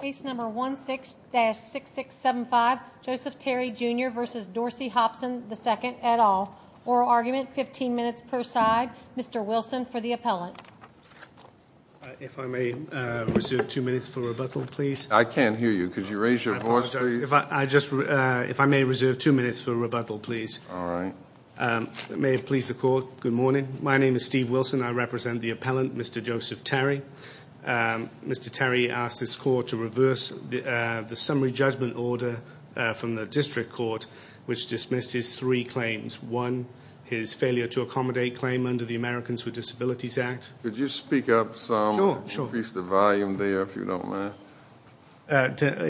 Case number 16-6675 Joseph Terry Jr v. Dorsey Hopson II et al. Oral argument, 15 minutes per side. Mr. Wilson for the appellant. If I may reserve two minutes for rebuttal, please. I can't hear you. Could you raise your voice, please? I apologize. If I may reserve two minutes for rebuttal, please. All right. May it please the Court, good morning. My name is Steve Wilson. I represent the appellant, Mr. Joseph Terry. Mr. Terry asked this Court to reverse the summary judgment order from the District Court, which dismissed his three claims. One, his failure to accommodate claim under the Americans with Disabilities Act. Could you speak up some? Sure. Increase the volume there if you don't mind.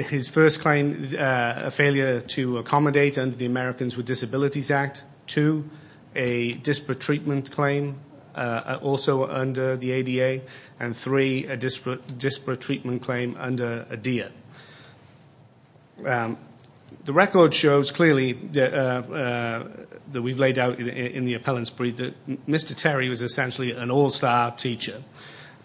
His first claim, a failure to accommodate under the Americans with Disabilities Act. Two, a disparate treatment claim also under the ADA. And three, a disparate treatment claim under ADEA. The record shows clearly that we've laid out in the appellant's brief that Mr. Terry was essentially an all-star teacher.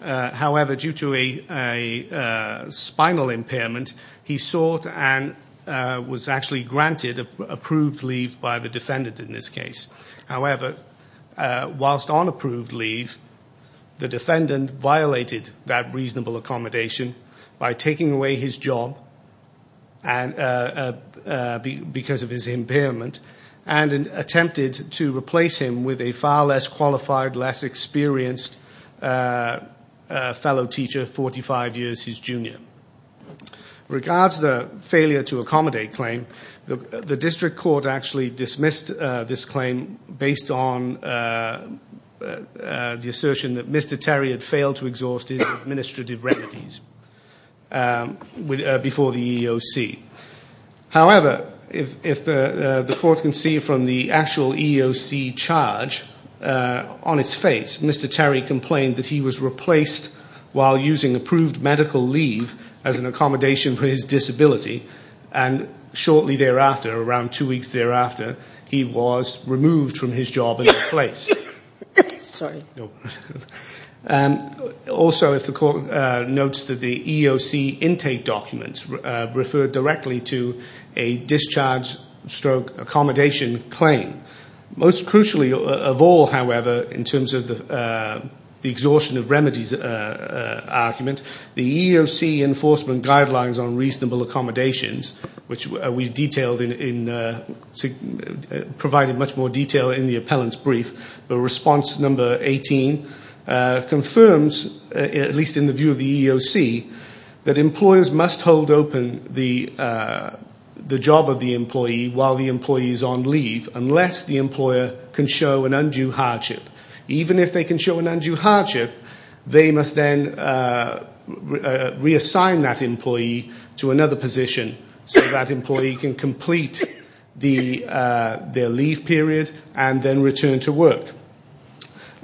However, due to a spinal impairment, he sought and was actually granted approved leave by the defendant in this case. However, whilst on approved leave, the defendant violated that reasonable accommodation by taking away his job because of his impairment and attempted to replace him with a far less qualified, less experienced fellow teacher 45 years his junior. In regards to the failure to accommodate claim, the District Court actually dismissed this claim based on the assertion that Mr. Terry had failed to exhaust his administrative remedies before the EEOC. However, if the court can see from the actual EEOC charge on his face, Mr. Terry complained that he was replaced while using approved medical leave as an accommodation for his disability, and shortly thereafter, around two weeks thereafter, he was removed from his job and replaced. Sorry. Also, if the court notes that the EEOC intake documents refer directly to a discharge stroke accommodation claim. Most crucially of all, however, in terms of the exhaustion of remedies argument, the EEOC enforcement guidelines on reasonable accommodations, which we've provided much more detail in the appellant's brief, the response number 18 confirms, at least in the view of the EEOC, that employers must hold open the job of the employee while the employee is on leave unless the employer can show an undue hardship. Even if they can show an undue hardship, they must then reassign that employee to another position so that employee can complete their leave period and then return to work.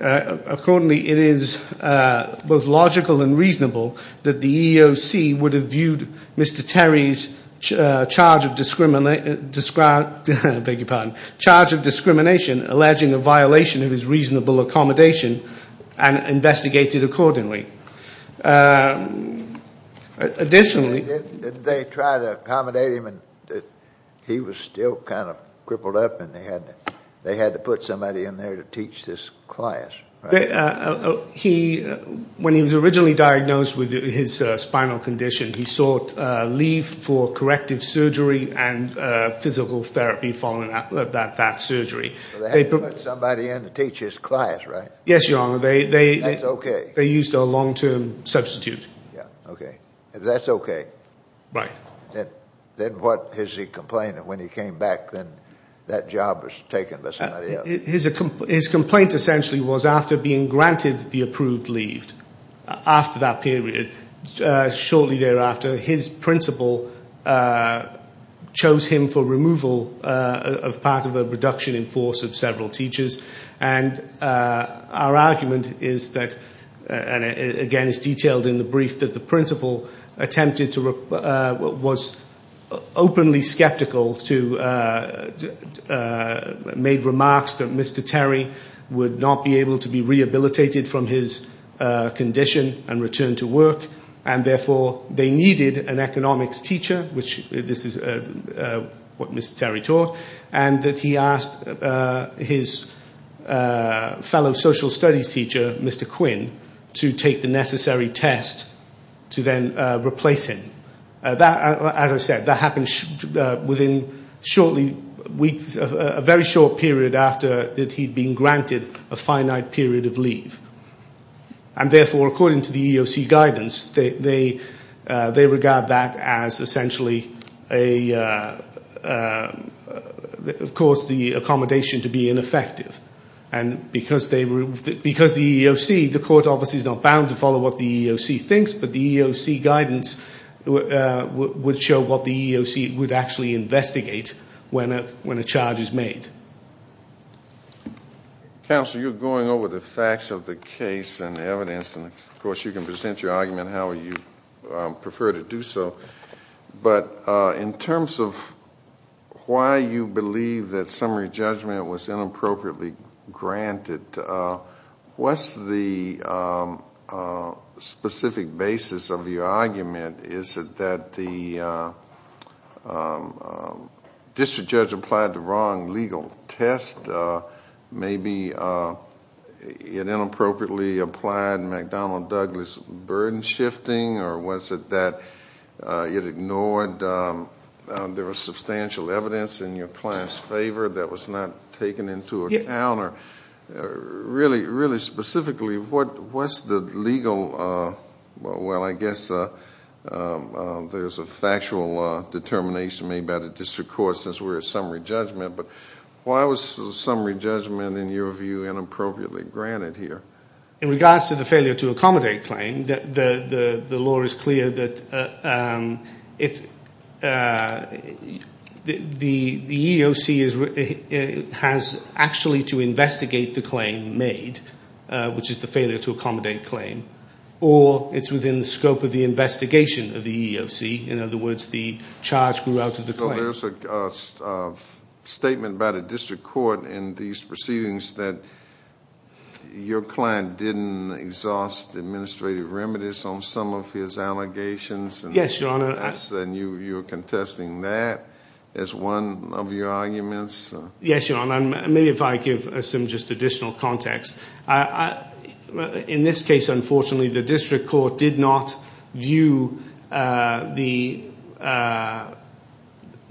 Accordingly, it is both logical and reasonable that the EEOC would have viewed Mr. Terry's charge of discrimination, alleging a violation of his reasonable accommodation, and investigated accordingly. Additionally, They tried to accommodate him, and he was still kind of crippled up, and they had to put somebody in there to teach this class. When he was originally diagnosed with his spinal condition, he sought leave for corrective surgery and physical therapy following that surgery. They had to put somebody in to teach his class, right? Yes, Your Honor. That's okay. They used a long-term substitute. Yeah, okay. That's okay. Right. Then what is he complaining? When he came back, then that job was taken by somebody else. His complaint essentially was after being granted the approved leave after that period. Shortly thereafter, his principal chose him for removal as part of a reduction in force of several teachers, and our argument is that, and again it's detailed in the brief, that the principal attempted to was openly skeptical to made remarks that Mr. Terry would not be able to be rehabilitated from his condition and return to work, and therefore they needed an economics teacher, which this is what Mr. Terry taught, and that he asked his fellow social studies teacher, Mr. Quinn, to take the necessary test to then replace him. As I said, that happened within a very short period after that he'd been granted a finite period of leave. And therefore, according to the EEOC guidance, they regard that as essentially a, of course, the accommodation to be ineffective. And because the EEOC, the court obviously is not bound to follow what the EEOC thinks, but the EEOC guidance would show what the EEOC would actually investigate when a charge is made. Counsel, you're going over the facts of the case and evidence, and of course you can present your argument however you prefer to do so. But in terms of why you believe that summary judgment was inappropriately granted, what's the specific basis of your argument? Is it that the district judge applied the wrong legal test? Maybe it inappropriately applied McDonnell-Douglas burden shifting, or was it that it ignored, there was substantial evidence in your client's favor that was not taken into account? Really specifically, what's the legal, well, I guess there's a factual determination made by the district court since we're at summary judgment, but why was summary judgment, in your view, inappropriately granted here? In regards to the failure to accommodate claim, the law is clear that the EEOC has actually, either failed to investigate the claim made, which is the failure to accommodate claim, or it's within the scope of the investigation of the EEOC. In other words, the charge grew out of the claim. So there's a statement by the district court in these proceedings that your client didn't exhaust administrative remedies on some of his allegations? Yes, Your Honor. And you're contesting that as one of your arguments? Yes, Your Honor. Maybe if I give some just additional context. In this case, unfortunately, the district court did not view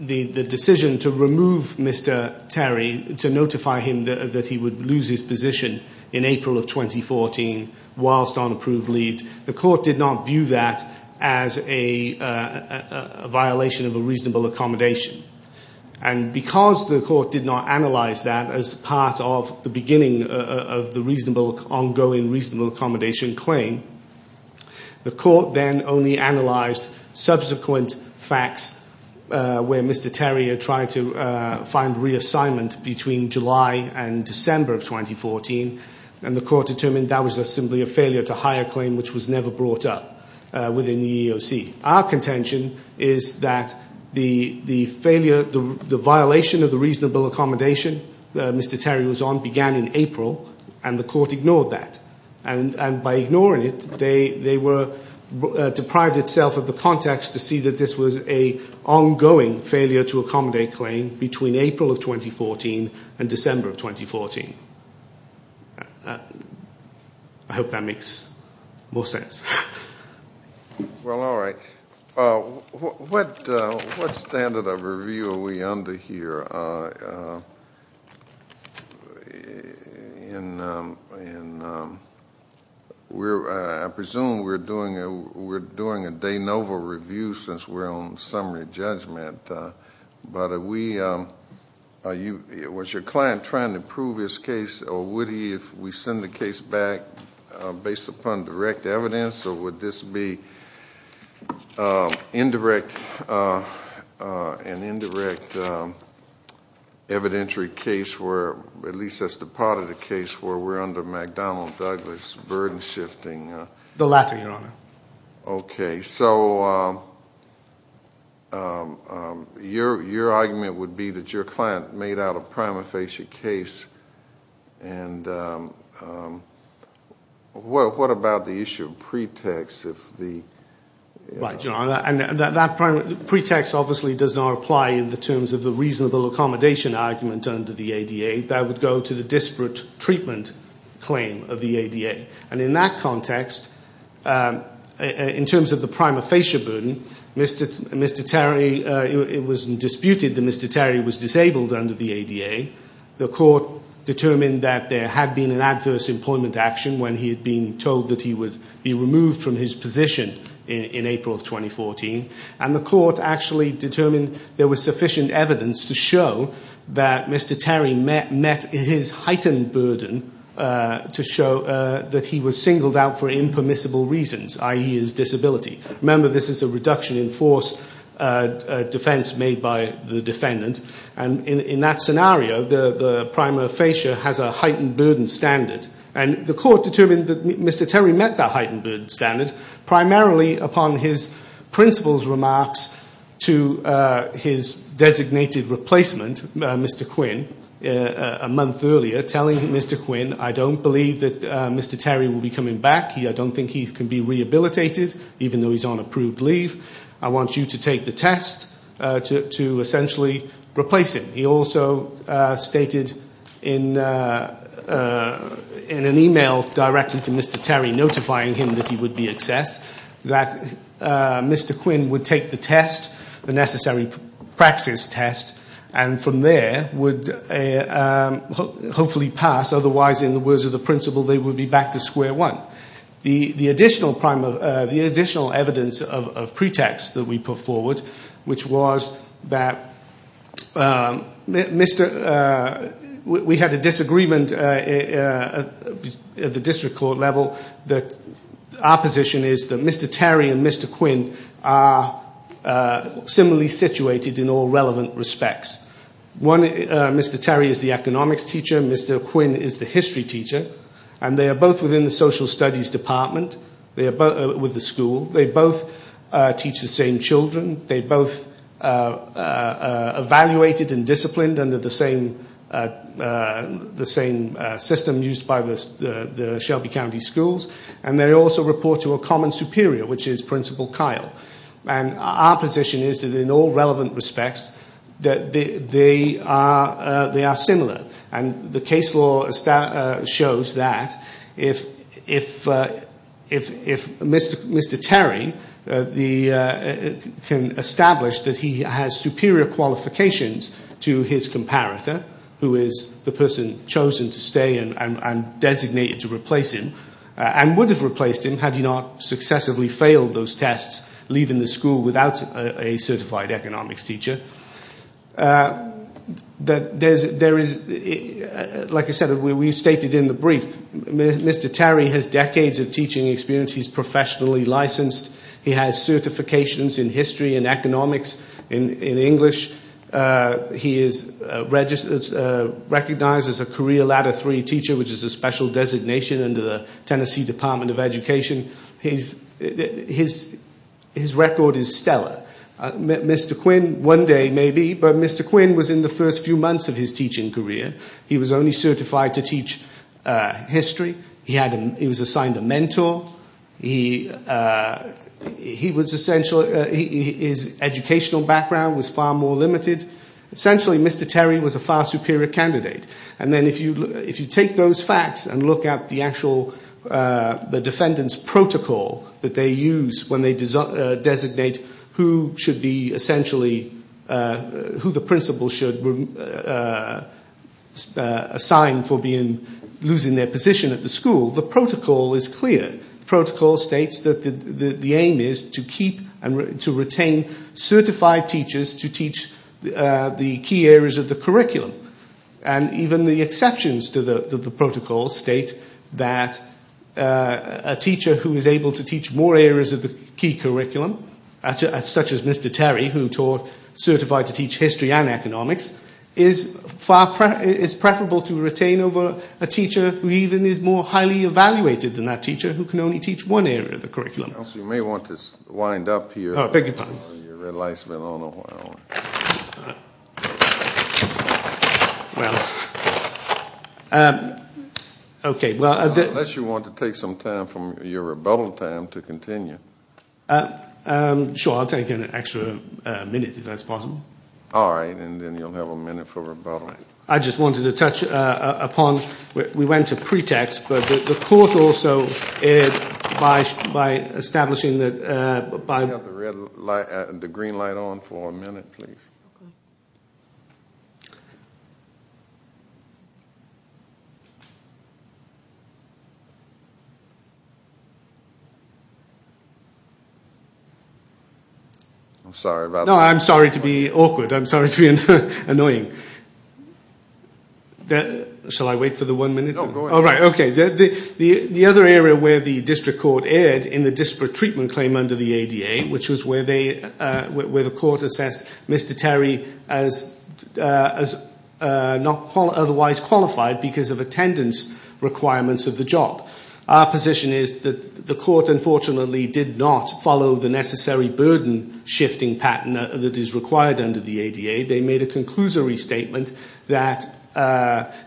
the decision to remove Mr. Terry, to notify him that he would lose his position in April of 2014 whilst on approved leave, the court did not view that as a violation of a reasonable accommodation. And because the court did not analyze that as part of the beginning of the ongoing reasonable accommodation claim, the court then only analyzed subsequent facts where Mr. Terry had tried to find reassignment between July and December of 2014, and the court determined that was simply a failure to hire claim which was never brought up within the EEOC. Our contention is that the failure, the violation of the reasonable accommodation Mr. Terry was on began in April, and the court ignored that. And by ignoring it, they were deprived itself of the context to see that this was an ongoing failure to accommodate claim between April of 2014 and December of 2014. I hope that makes more sense. Well, all right. What standard of review are we under here? I presume we're doing a de novo review since we're on summary judgment. But was your client trying to prove his case, or would he if we send the case back based upon direct evidence, or would this be an indirect evidentiary case where at least that's the part of the case where we're under McDonnell-Douglas burden shifting? Okay. So your argument would be that your client made out a prima facie case, and what about the issue of pretext? Right, John. And that pretext obviously does not apply in the terms of the reasonable accommodation argument under the ADA. That would go to the disparate treatment claim of the ADA. And in that context, in terms of the prima facie burden, Mr. Terry, it was disputed that Mr. Terry was disabled under the ADA. The court determined that there had been an adverse employment action when he had been told that he would be removed from his position in April of 2014. And the court actually determined there was sufficient evidence to show that Mr. Terry met his heightened burden to show that he was singled out for impermissible reasons, i.e., his disability. Remember, this is a reduction in force defense made by the defendant. And in that scenario, the prima facie has a heightened burden standard. And the court determined that Mr. Terry met that heightened burden standard primarily upon his principal's remarks to his designated replacement, Mr. Quinn, a month earlier, telling Mr. Quinn, I don't believe that Mr. Terry will be coming back. I don't think he can be rehabilitated, even though he's on approved leave. I want you to take the test to essentially replace him. He also stated in an email directly to Mr. Terry, notifying him that he would be accessed, that Mr. Quinn would take the test, the necessary praxis test, and from there would hopefully pass. Otherwise, in the words of the principal, they would be back to square one. The additional evidence of pretext that we put forward, which was that we had a disagreement at the district court level, that our position is that Mr. Terry and Mr. Quinn are similarly situated in all relevant respects. One, Mr. Terry is the economics teacher. Mr. Quinn is the history teacher. And they are both within the social studies department with the school. They both teach the same children. They both evaluated and disciplined under the same system used by the Shelby County schools. And they also report to a common superior, which is Principal Kyle. And our position is that in all relevant respects, they are similar. And the case law shows that if Mr. Terry can establish that he has superior qualifications to his comparator, who is the person chosen to stay and designated to replace him, and would have replaced him had he not successively failed those tests, leaving the school without a certified economics teacher. Like I said, we stated in the brief, Mr. Terry has decades of teaching experience. He's professionally licensed. He has certifications in history and economics and in English. He is recognized as a career ladder three teacher, which is a special designation under the Tennessee Department of Education. His record is stellar. Mr. Quinn, one day maybe, but Mr. Quinn was in the first few months of his teaching career. He was only certified to teach history. He was assigned a mentor. His educational background was far more limited. Essentially, Mr. Terry was a far superior candidate. And then if you take those facts and look at the actual defendant's protocol that they use when they designate who the principal should assign for losing their position at the school, the protocol is clear. The protocol states that the aim is to retain certified teachers to teach the key areas of the curriculum. And even the exceptions to the protocol state that a teacher who is able to teach more areas of the key curriculum, such as Mr. Terry, who taught certified to teach history and economics, is preferable to retain over a teacher who even is more highly evaluated than that teacher who can only teach one area of the curriculum. You may want to wind up here. Unless you want to take some time from your rebuttal time to continue. Sure, I'll take an extra minute if that's possible. All right, and then you'll have a minute for rebuttal. All right. I just wanted to touch upon, we went to pretext, but the court also, by establishing that... Can we have the green light on for a minute, please? I'm sorry about that. No, I'm sorry to be awkward. I'm sorry to be annoying. Shall I wait for the one minute? No, go ahead. All right, okay. The other area where the district court erred in the disparate treatment claim under the ADA, which was where the court assessed Mr. Terry as not otherwise qualified because of attendance requirements of the job. Our position is that the court, unfortunately, did not follow the necessary burden-shifting pattern that is required under the ADA. They made a conclusory statement that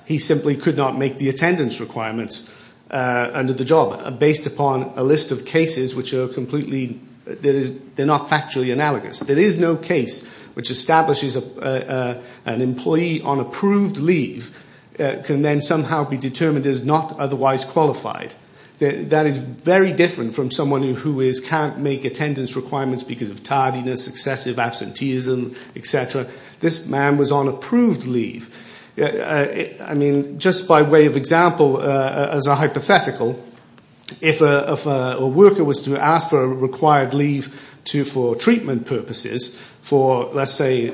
he simply could not make the attendance requirements under the job based upon a list of cases which are completely... They're not factually analogous. There is no case which establishes an employee on approved leave can then somehow be determined as not otherwise qualified. That is very different from someone who can't make attendance requirements because of tardiness, excessive absenteeism, et cetera. This man was on approved leave. I mean, just by way of example as a hypothetical, if a worker was to ask for a required leave for treatment purposes for, let's say,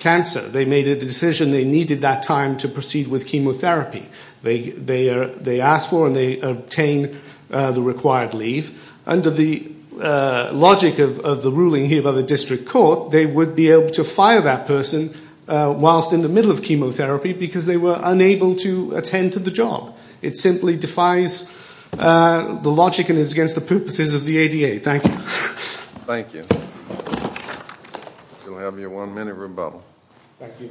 cancer, they made a decision they needed that time to proceed with chemotherapy. They asked for and they obtained the required leave. Under the logic of the ruling here by the district court, they would be able to fire that person whilst in the middle of chemotherapy because they were unable to attend to the job. It simply defies the logic and is against the purposes of the ADA. Thank you. Thank you. You'll have your one-minute rebuttal. Thank you.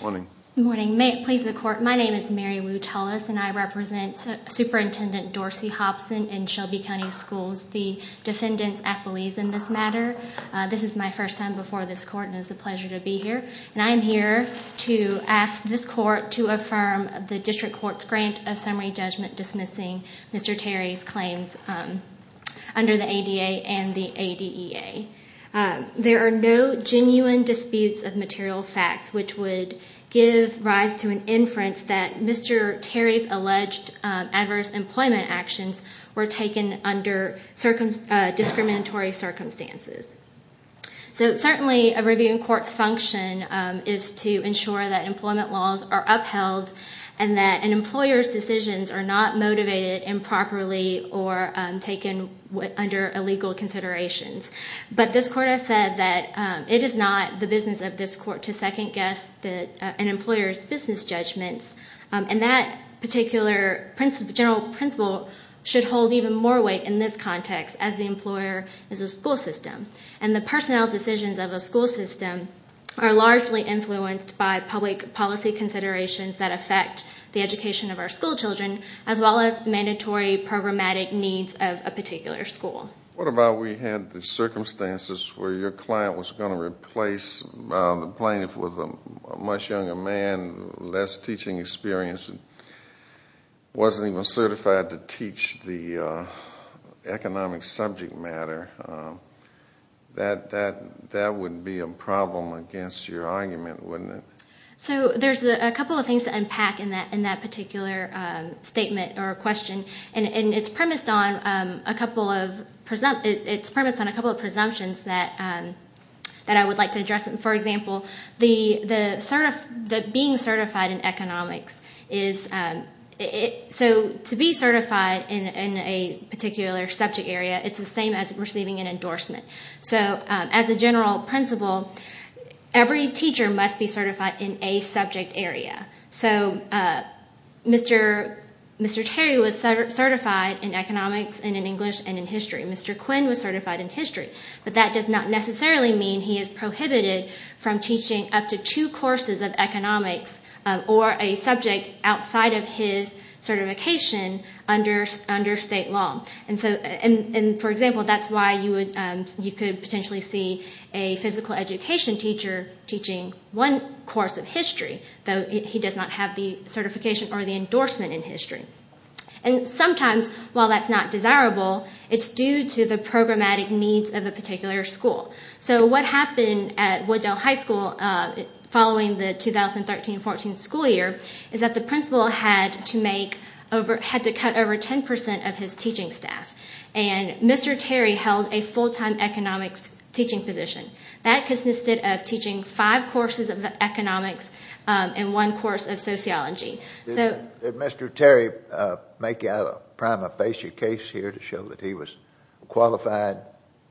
Morning. Morning. May it please the court, my name is Mary Wu Tullis and I represent Superintendent Dorsey Hobson in Shelby County Schools, the defendant's appellees in this matter. This is my first time before this court and it's a pleasure to be here. And I am here to ask this court to affirm the district court's grant of summary judgment dismissing Mr. Terry's claims under the ADA and the ADEA. There are no genuine disputes of material facts which would give rise to an inference that Mr. Terry's alleged adverse employment actions were taken under discriminatory circumstances. So certainly a review in court's function is to ensure that employment laws are upheld and that an employer's decisions are not motivated improperly or taken under illegal considerations. But this court has said that it is not the business of this court to second guess an employer's business judgments. And that particular general principle should hold even more weight in this context as the employer is a school system. And the personnel decisions of a school system are largely influenced by public policy considerations that affect the education of our school children as well as mandatory programmatic needs of a particular school. What about we had the circumstances where your client was going to replace the plaintiff with a much younger man, less teaching experience, wasn't even certified to teach the economic subject matter? That would be a problem against your argument, wouldn't it? There's a couple of things to unpack in that particular statement or question. It's premised on a couple of presumptions that I would like to address. For example, being certified in economics. To be certified in a particular subject area is the same as receiving an endorsement. As a general principle, every teacher must be certified in a subject area. Mr. Terry was certified in economics and in English and in history. Mr. Quinn was certified in history. But that does not necessarily mean he is prohibited from teaching up to two courses of economics or a subject outside of his certification under state law. For example, that's why you could potentially see a physical education teacher teaching one course of history, though he does not have the certification or the endorsement in history. Sometimes, while that's not desirable, it's due to the programmatic needs of a particular school. So what happened at Wooddale High School following the 2013-14 school year is that the principal had to cut over 10 percent of his teaching staff. And Mr. Terry held a full-time economics teaching position. That consisted of teaching five courses of economics and one course of sociology. Did Mr. Terry make out a prima facie case here to show that he was qualified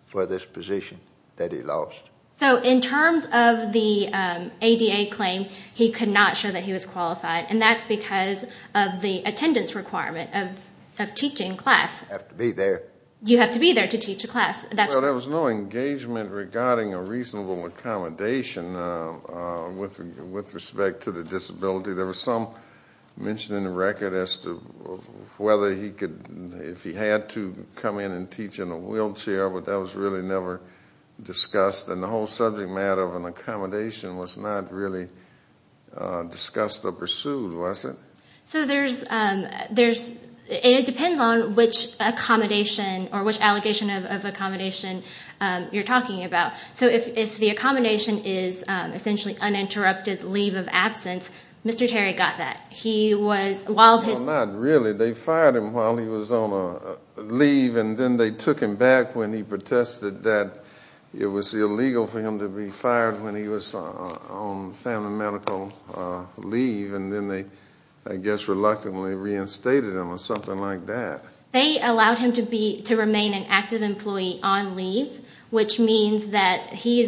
for this position that he lost? So in terms of the ADA claim, he could not show that he was qualified, and that's because of the attendance requirement of teaching class. You have to be there. You have to be there to teach a class. Well, there was no engagement regarding a reasonable accommodation with respect to the disability. There was some mention in the record as to whether he could, if he had to, come in and teach in a wheelchair, but that was really never discussed. And the whole subject matter of an accommodation was not really discussed or pursued, was it? So there's, and it depends on which accommodation or which allegation of accommodation you're talking about. So if the accommodation is essentially uninterrupted leave of absence, Mr. Terry got that. He was, while his- Well, not really. They fired him while he was on leave, and then they took him back when he protested that it was illegal for him to be fired when he was on family medical leave, and then they, I guess, reluctantly reinstated him or something like that. They allowed him to remain an active employee on leave, which means that he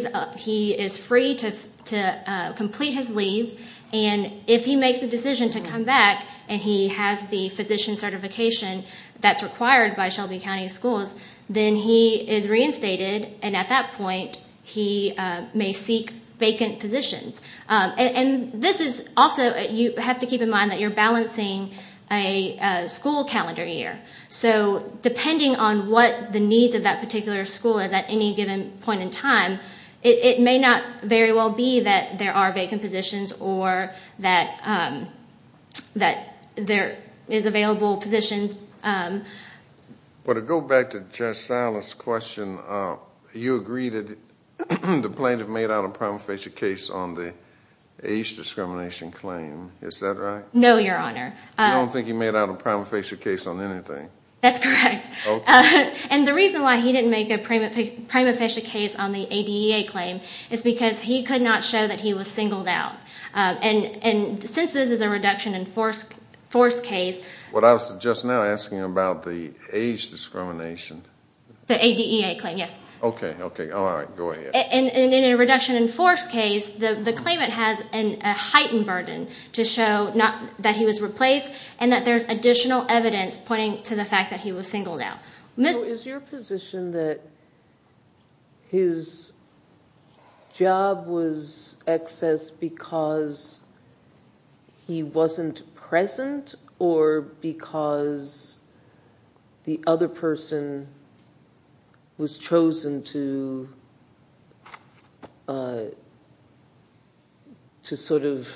is free to complete his leave, and if he makes the decision to come back and he has the physician certification that's required by Shelby County Schools, then he is reinstated, and at that point he may seek vacant positions. And this is also, you have to keep in mind that you're balancing a school calendar year. So depending on what the needs of that particular school is at any given point in time, it may not very well be that there are vacant positions or that there is available positions. Well, to go back to Judge Silas' question, you agree that the plaintiff made out a prima facie case on the age discrimination claim. Is that right? No, Your Honor. I don't think he made out a prima facie case on anything. That's correct. Okay. And the reason why he didn't make a prima facie case on the ADEA claim is because he could not show that he was singled out. And since this is a reduction in force case- What I was just now asking about the age discrimination- The ADEA claim, yes. Okay, okay. All right. Go ahead. And in a reduction in force case, the claimant has a heightened burden to show that he was replaced and that there's additional evidence pointing to the fact that he was singled out. So is your position that his job was excess because he wasn't present or because the other person was chosen to sort of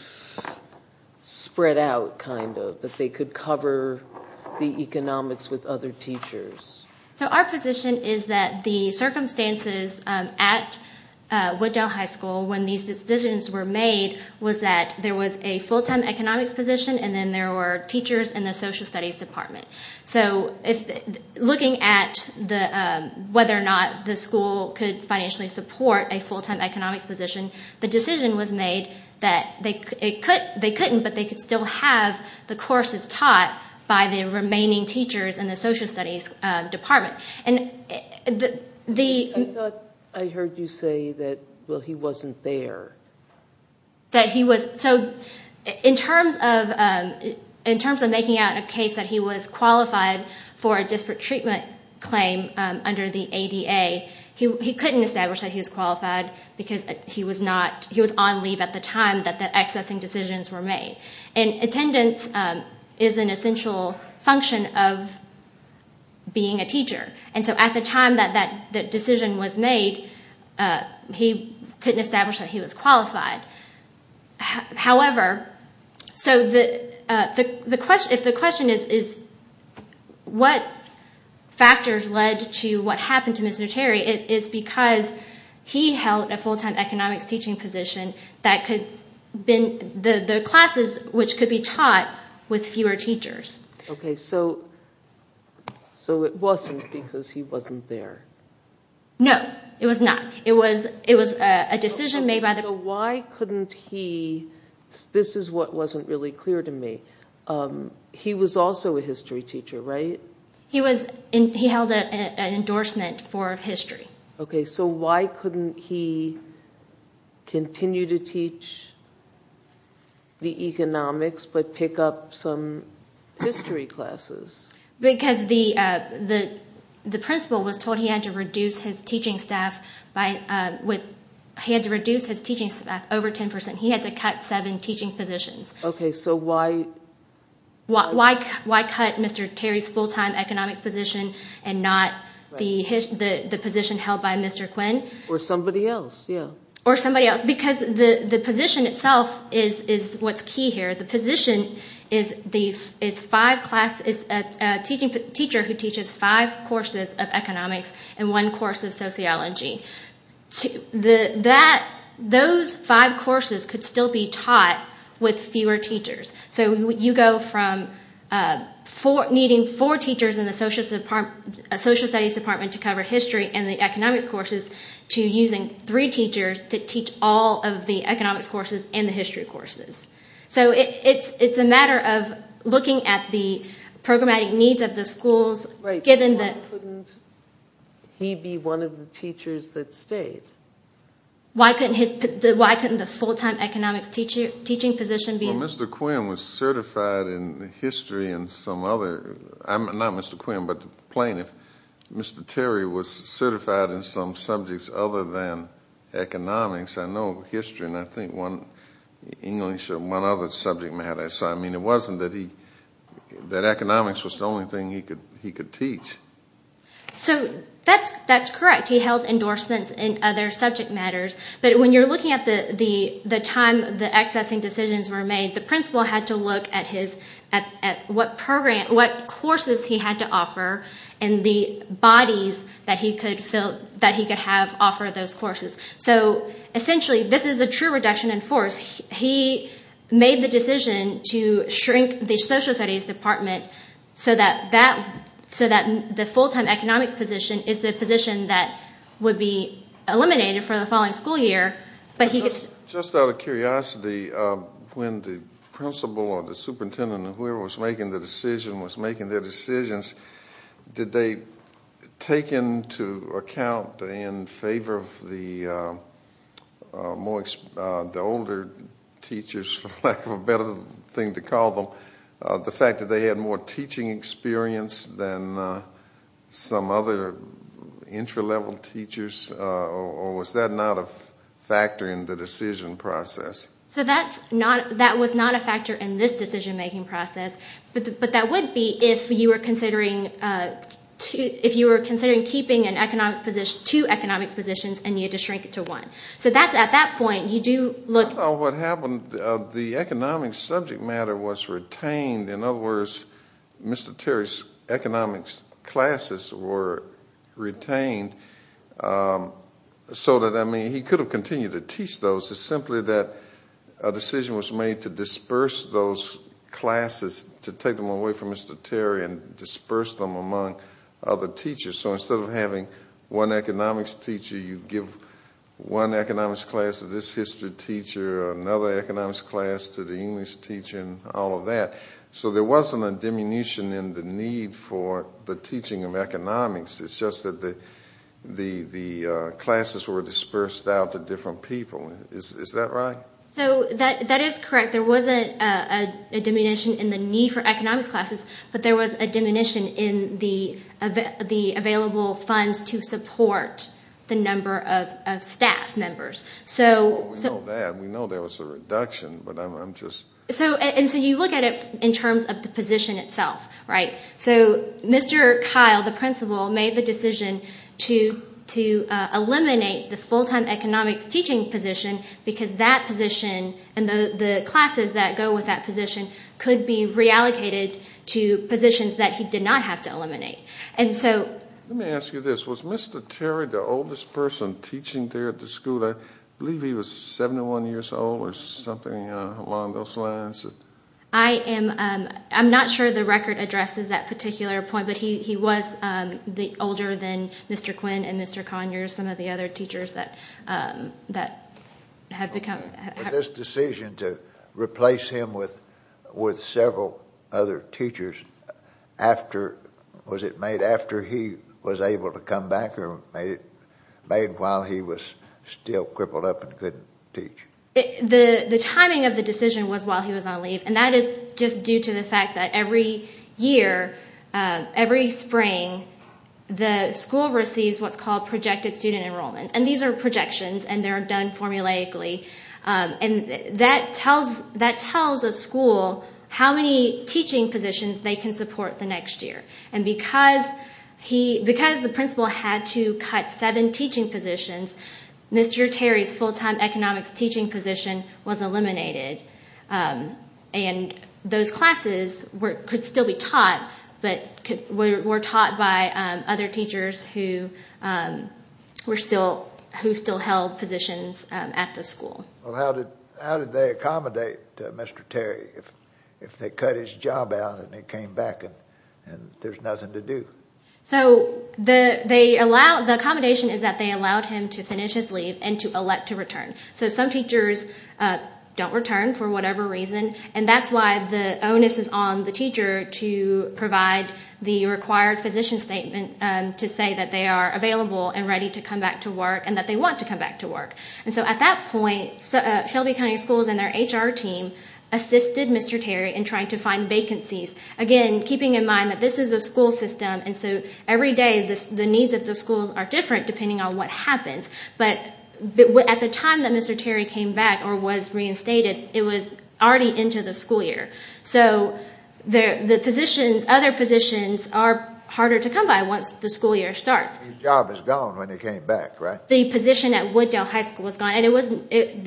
spread out, kind of, the economics with other teachers? So our position is that the circumstances at Wooddell High School when these decisions were made was that there was a full-time economics position and then there were teachers in the social studies department. So looking at whether or not the school could financially support a full-time economics position, the decision was made that they couldn't but they could still have the courses taught by the remaining teachers in the social studies department. I thought I heard you say that, well, he wasn't there. So in terms of making out a case that he was qualified for a disparate treatment claim under the ADEA, he couldn't establish that he was qualified because he was on leave at the time that the accessing decisions were made. And attendance is an essential function of being a teacher. And so at the time that that decision was made, he couldn't establish that he was qualified. However, if the question is what factors led to what happened to Mr. Terry, it is because he held a full-time economics teaching position that the classes which could be taught with fewer teachers. Okay, so it wasn't because he wasn't there. No, it was not. It was a decision made by the… So why couldn't he, this is what wasn't really clear to me, he was also a history teacher, right? He held an endorsement for history. Okay, so why couldn't he continue to teach the economics but pick up some history classes? Because the principal was told he had to reduce his teaching staff by, he had to reduce his teaching staff over 10%. He had to cut seven teaching positions. Okay, so why? Why cut Mr. Terry's full-time economics position and not the position held by Mr. Quinn? Or somebody else, yeah. Or somebody else, because the position itself is what's key here. The position is a teacher who teaches five courses of economics and one course of sociology. Those five courses could still be taught with fewer teachers. So you go from needing four teachers in the social studies department to cover history and the economics courses to using three teachers to teach all of the economics courses and the history courses. So it's a matter of looking at the programmatic needs of the schools, given that… Right, so why couldn't he be one of the teachers that stayed? Why couldn't the full-time economics teaching position be… Well, Mr. Quinn was certified in history and some other, not Mr. Quinn, but the plaintiff, Mr. Terry was certified in some subjects other than economics. I know history, and I think one English or one other subject matter. So, I mean, it wasn't that he, that economics was the only thing he could teach. So that's correct. He held endorsements in other subject matters. But when you're looking at the time the accessing decisions were made, the principal had to look at what courses he had to offer and the bodies that he could have offer those courses. So, essentially, this is a true reduction in force. He made the decision to shrink the social studies department so that the full-time economics position is the position that would be eliminated for the following school year. Just out of curiosity, when the principal or the superintendent or whoever was making the decision, was making their decisions, did they take into account in favor of the older teachers, for lack of a better thing to call them, the fact that they had more teaching experience than some other intralevel teachers, or was that not a factor in the decision process? So that was not a factor in this decision-making process, but that would be if you were considering keeping two economics positions and you had to shrink it to one. So that's at that point, you do look. I thought what happened, the economics subject matter was retained. In other words, Mr. Terry's economics classes were retained so that, I mean, he could have continued to teach those. It's simply that a decision was made to disperse those classes, to take them away from Mr. Terry and disperse them among other teachers. So instead of having one economics teacher, you give one economics class to this history teacher, another economics class to the English teacher and all of that. So there wasn't a diminution in the need for the teaching of economics. It's just that the classes were dispersed out to different people. Is that right? So that is correct. There wasn't a diminution in the need for economics classes, but there was a diminution in the available funds to support the number of staff members. Well, we know that. We know there was a reduction, but I'm just... And so you look at it in terms of the position itself, right? So Mr. Kyle, the principal, made the decision to eliminate the full-time economics teaching position because that position and the classes that go with that position could be reallocated to positions that he did not have to eliminate. And so... Let me ask you this. Was Mr. Terry the oldest person teaching there at the school? I believe he was 71 years old or something along those lines. I am not sure the record addresses that particular point, but he was older than Mr. Quinn and Mr. Conyers, some of the other teachers that had become... Was this decision to replace him with several other teachers after he was able to come back or made while he was still crippled up and couldn't teach? The timing of the decision was while he was on leave, and that is just due to the fact that every year, every spring, the school receives what's called projected student enrollment. And these are projections, and they're done formulaically. And that tells a school how many teaching positions they can support the next year. And because the principal had to cut seven teaching positions, Mr. Terry's full-time economics teaching position was eliminated. And those classes could still be taught, but were taught by other teachers who still held positions at the school. Well, how did they accommodate Mr. Terry if they cut his job out and he came back and there's nothing to do? So the accommodation is that they allowed him to finish his leave and to elect to return. So some teachers don't return for whatever reason, and that's why the onus is on the teacher to provide the required physician statement to say that they are available and ready to come back to work and that they want to come back to work. And so at that point, Shelby County Schools and their HR team assisted Mr. Terry in trying to find vacancies, again, keeping in mind that this is a school system. And so every day the needs of the schools are different depending on what happens. But at the time that Mr. Terry came back or was reinstated, it was already into the school year. So the positions, other positions are harder to come by once the school year starts. His job is gone when he came back, right? The position at Wooddale High School was gone.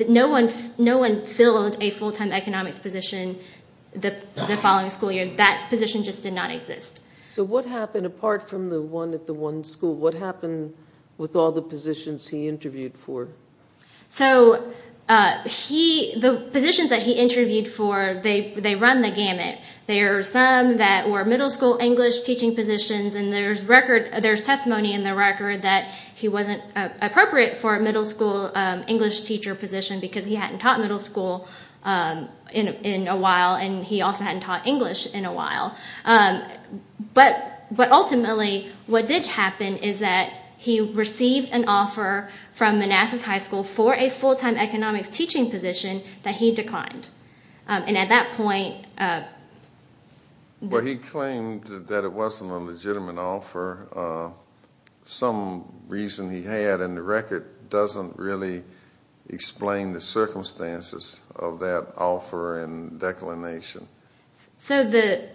No one filled a full-time economics position the following school year. That position just did not exist. So what happened apart from the one at the one school? What happened with all the positions he interviewed for? So the positions that he interviewed for, they run the gamut. There are some that were middle school English teaching positions, and there's testimony in the record that he wasn't appropriate for a middle school English teacher position because he hadn't taught middle school in a while, and he also hadn't taught English in a while. But ultimately what did happen is that he received an offer from Manassas High School for a full-time economics teaching position that he declined. And at that point— Well, he claimed that it wasn't a legitimate offer. Some reason he had in the record doesn't really explain the circumstances of that offer and declination. So the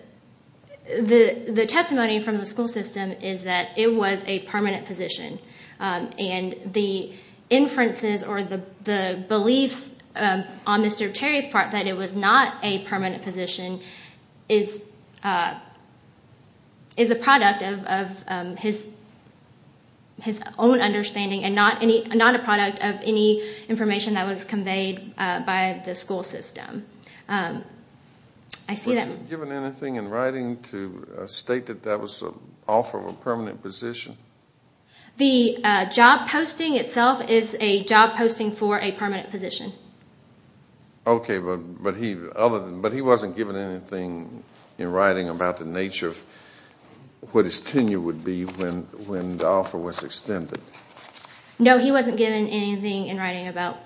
testimony from the school system is that it was a permanent position, and the inferences or the beliefs on Mr. Terry's part that it was not a permanent position is a product of his own understanding and not a product of any information that was conveyed by the school system. Was he given anything in writing to state that that was an offer of a permanent position? The job posting itself is a job posting for a permanent position. Okay, but he wasn't given anything in writing about the nature of what his tenure would be when the offer was extended. No, he wasn't given anything in writing about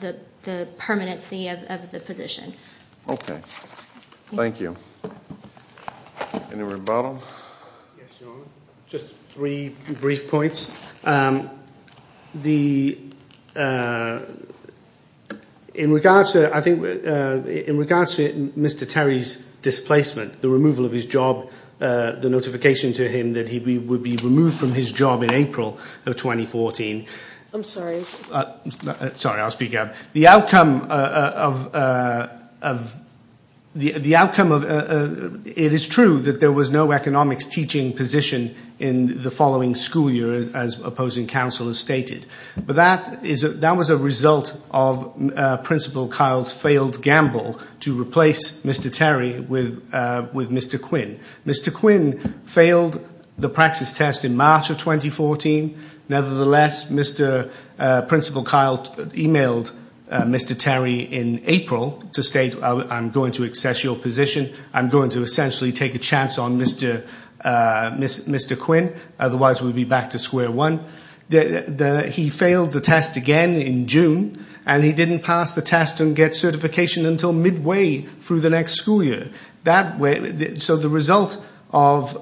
the permanency of the position. Okay. Thank you. Any rebuttal? Just three brief points. In regards to, I think, in regards to Mr. Terry's displacement, the removal of his job, the notification to him that he would be removed from his job in April of 2014. I'm sorry. Sorry, I'll speak up. It is true that there was no economics teaching position in the following school year, as opposing counsel has stated. But that was a result of Principal Kyle's failed gamble to replace Mr. Terry with Mr. Quinn. Mr. Quinn failed the practice test in March of 2014. Nevertheless, Principal Kyle emailed Mr. Terry in April to state, I'm going to access your position. I'm going to essentially take a chance on Mr. Quinn. Otherwise, we'd be back to square one. He failed the test again in June. And he didn't pass the test and get certification until midway through the next school year. So the result of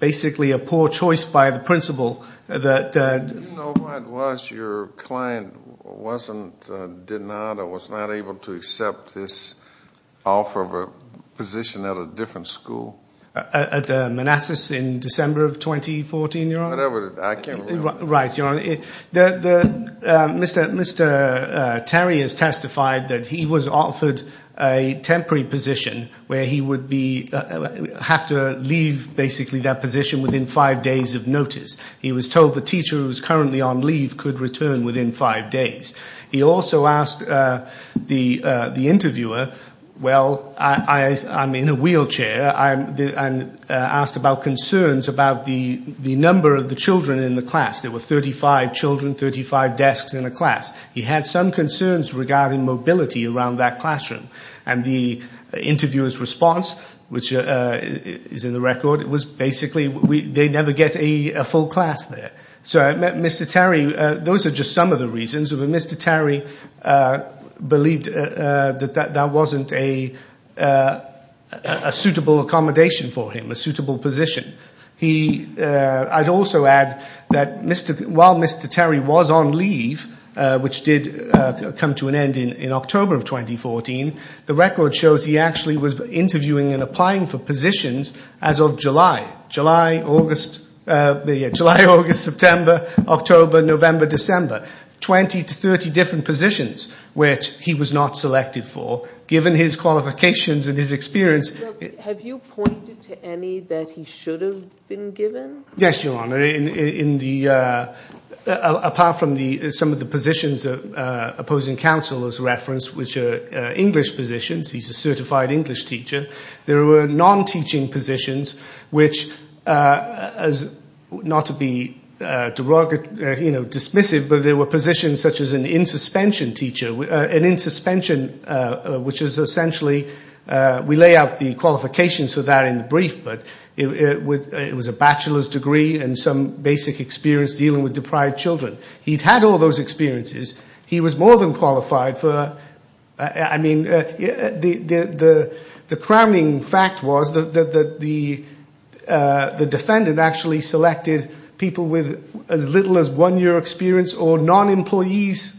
basically a poor choice by the principal. Do you know what it was your client wasn't, did not or was not able to accept this offer of a position at a different school? At the Manassas in December of 2014, Your Honor? I can't remember. Right, Your Honor. Mr. Terry has testified that he was offered a temporary position where he would have to leave basically that position within five days of notice. He was told the teacher who was currently on leave could return within five days. He also asked the interviewer, well, I'm in a wheelchair. I'm asked about concerns about the number of the children in the class. There were 35 children, 35 desks in a class. He had some concerns regarding mobility around that classroom. And the interviewer's response, which is in the record, was basically they never get a full class there. So Mr. Terry, those are just some of the reasons. Mr. Terry believed that that wasn't a suitable accommodation for him, a suitable position. I'd also add that while Mr. Terry was on leave, which did come to an end in October of 2014, the record shows he actually was interviewing and applying for positions as of July. July, August, September, October, November, December. Twenty to thirty different positions which he was not selected for given his qualifications and his experience. Have you pointed to any that he should have been given? Yes, Your Honor. Apart from some of the positions opposing counsel as referenced, which are English positions. He's a certified English teacher. There were non-teaching positions which, not to be dismissive, but there were positions such as an in-suspension teacher. An in-suspension, which is essentially we lay out the qualifications for that in the brief, but it was a bachelor's degree and some basic experience dealing with deprived children. He'd had all those experiences. He was more than qualified for, I mean, the crowning fact was that the defendant actually selected people with as little as one year experience or non-employees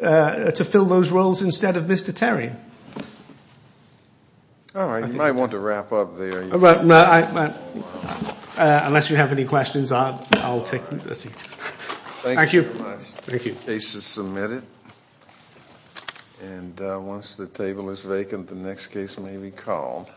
to fill those roles instead of Mr. Terry. All right. You might want to wrap up there. Unless you have any questions, I'll take the seat. Thank you. Thank you. The case is submitted. And once the table is vacant, the next case may be called.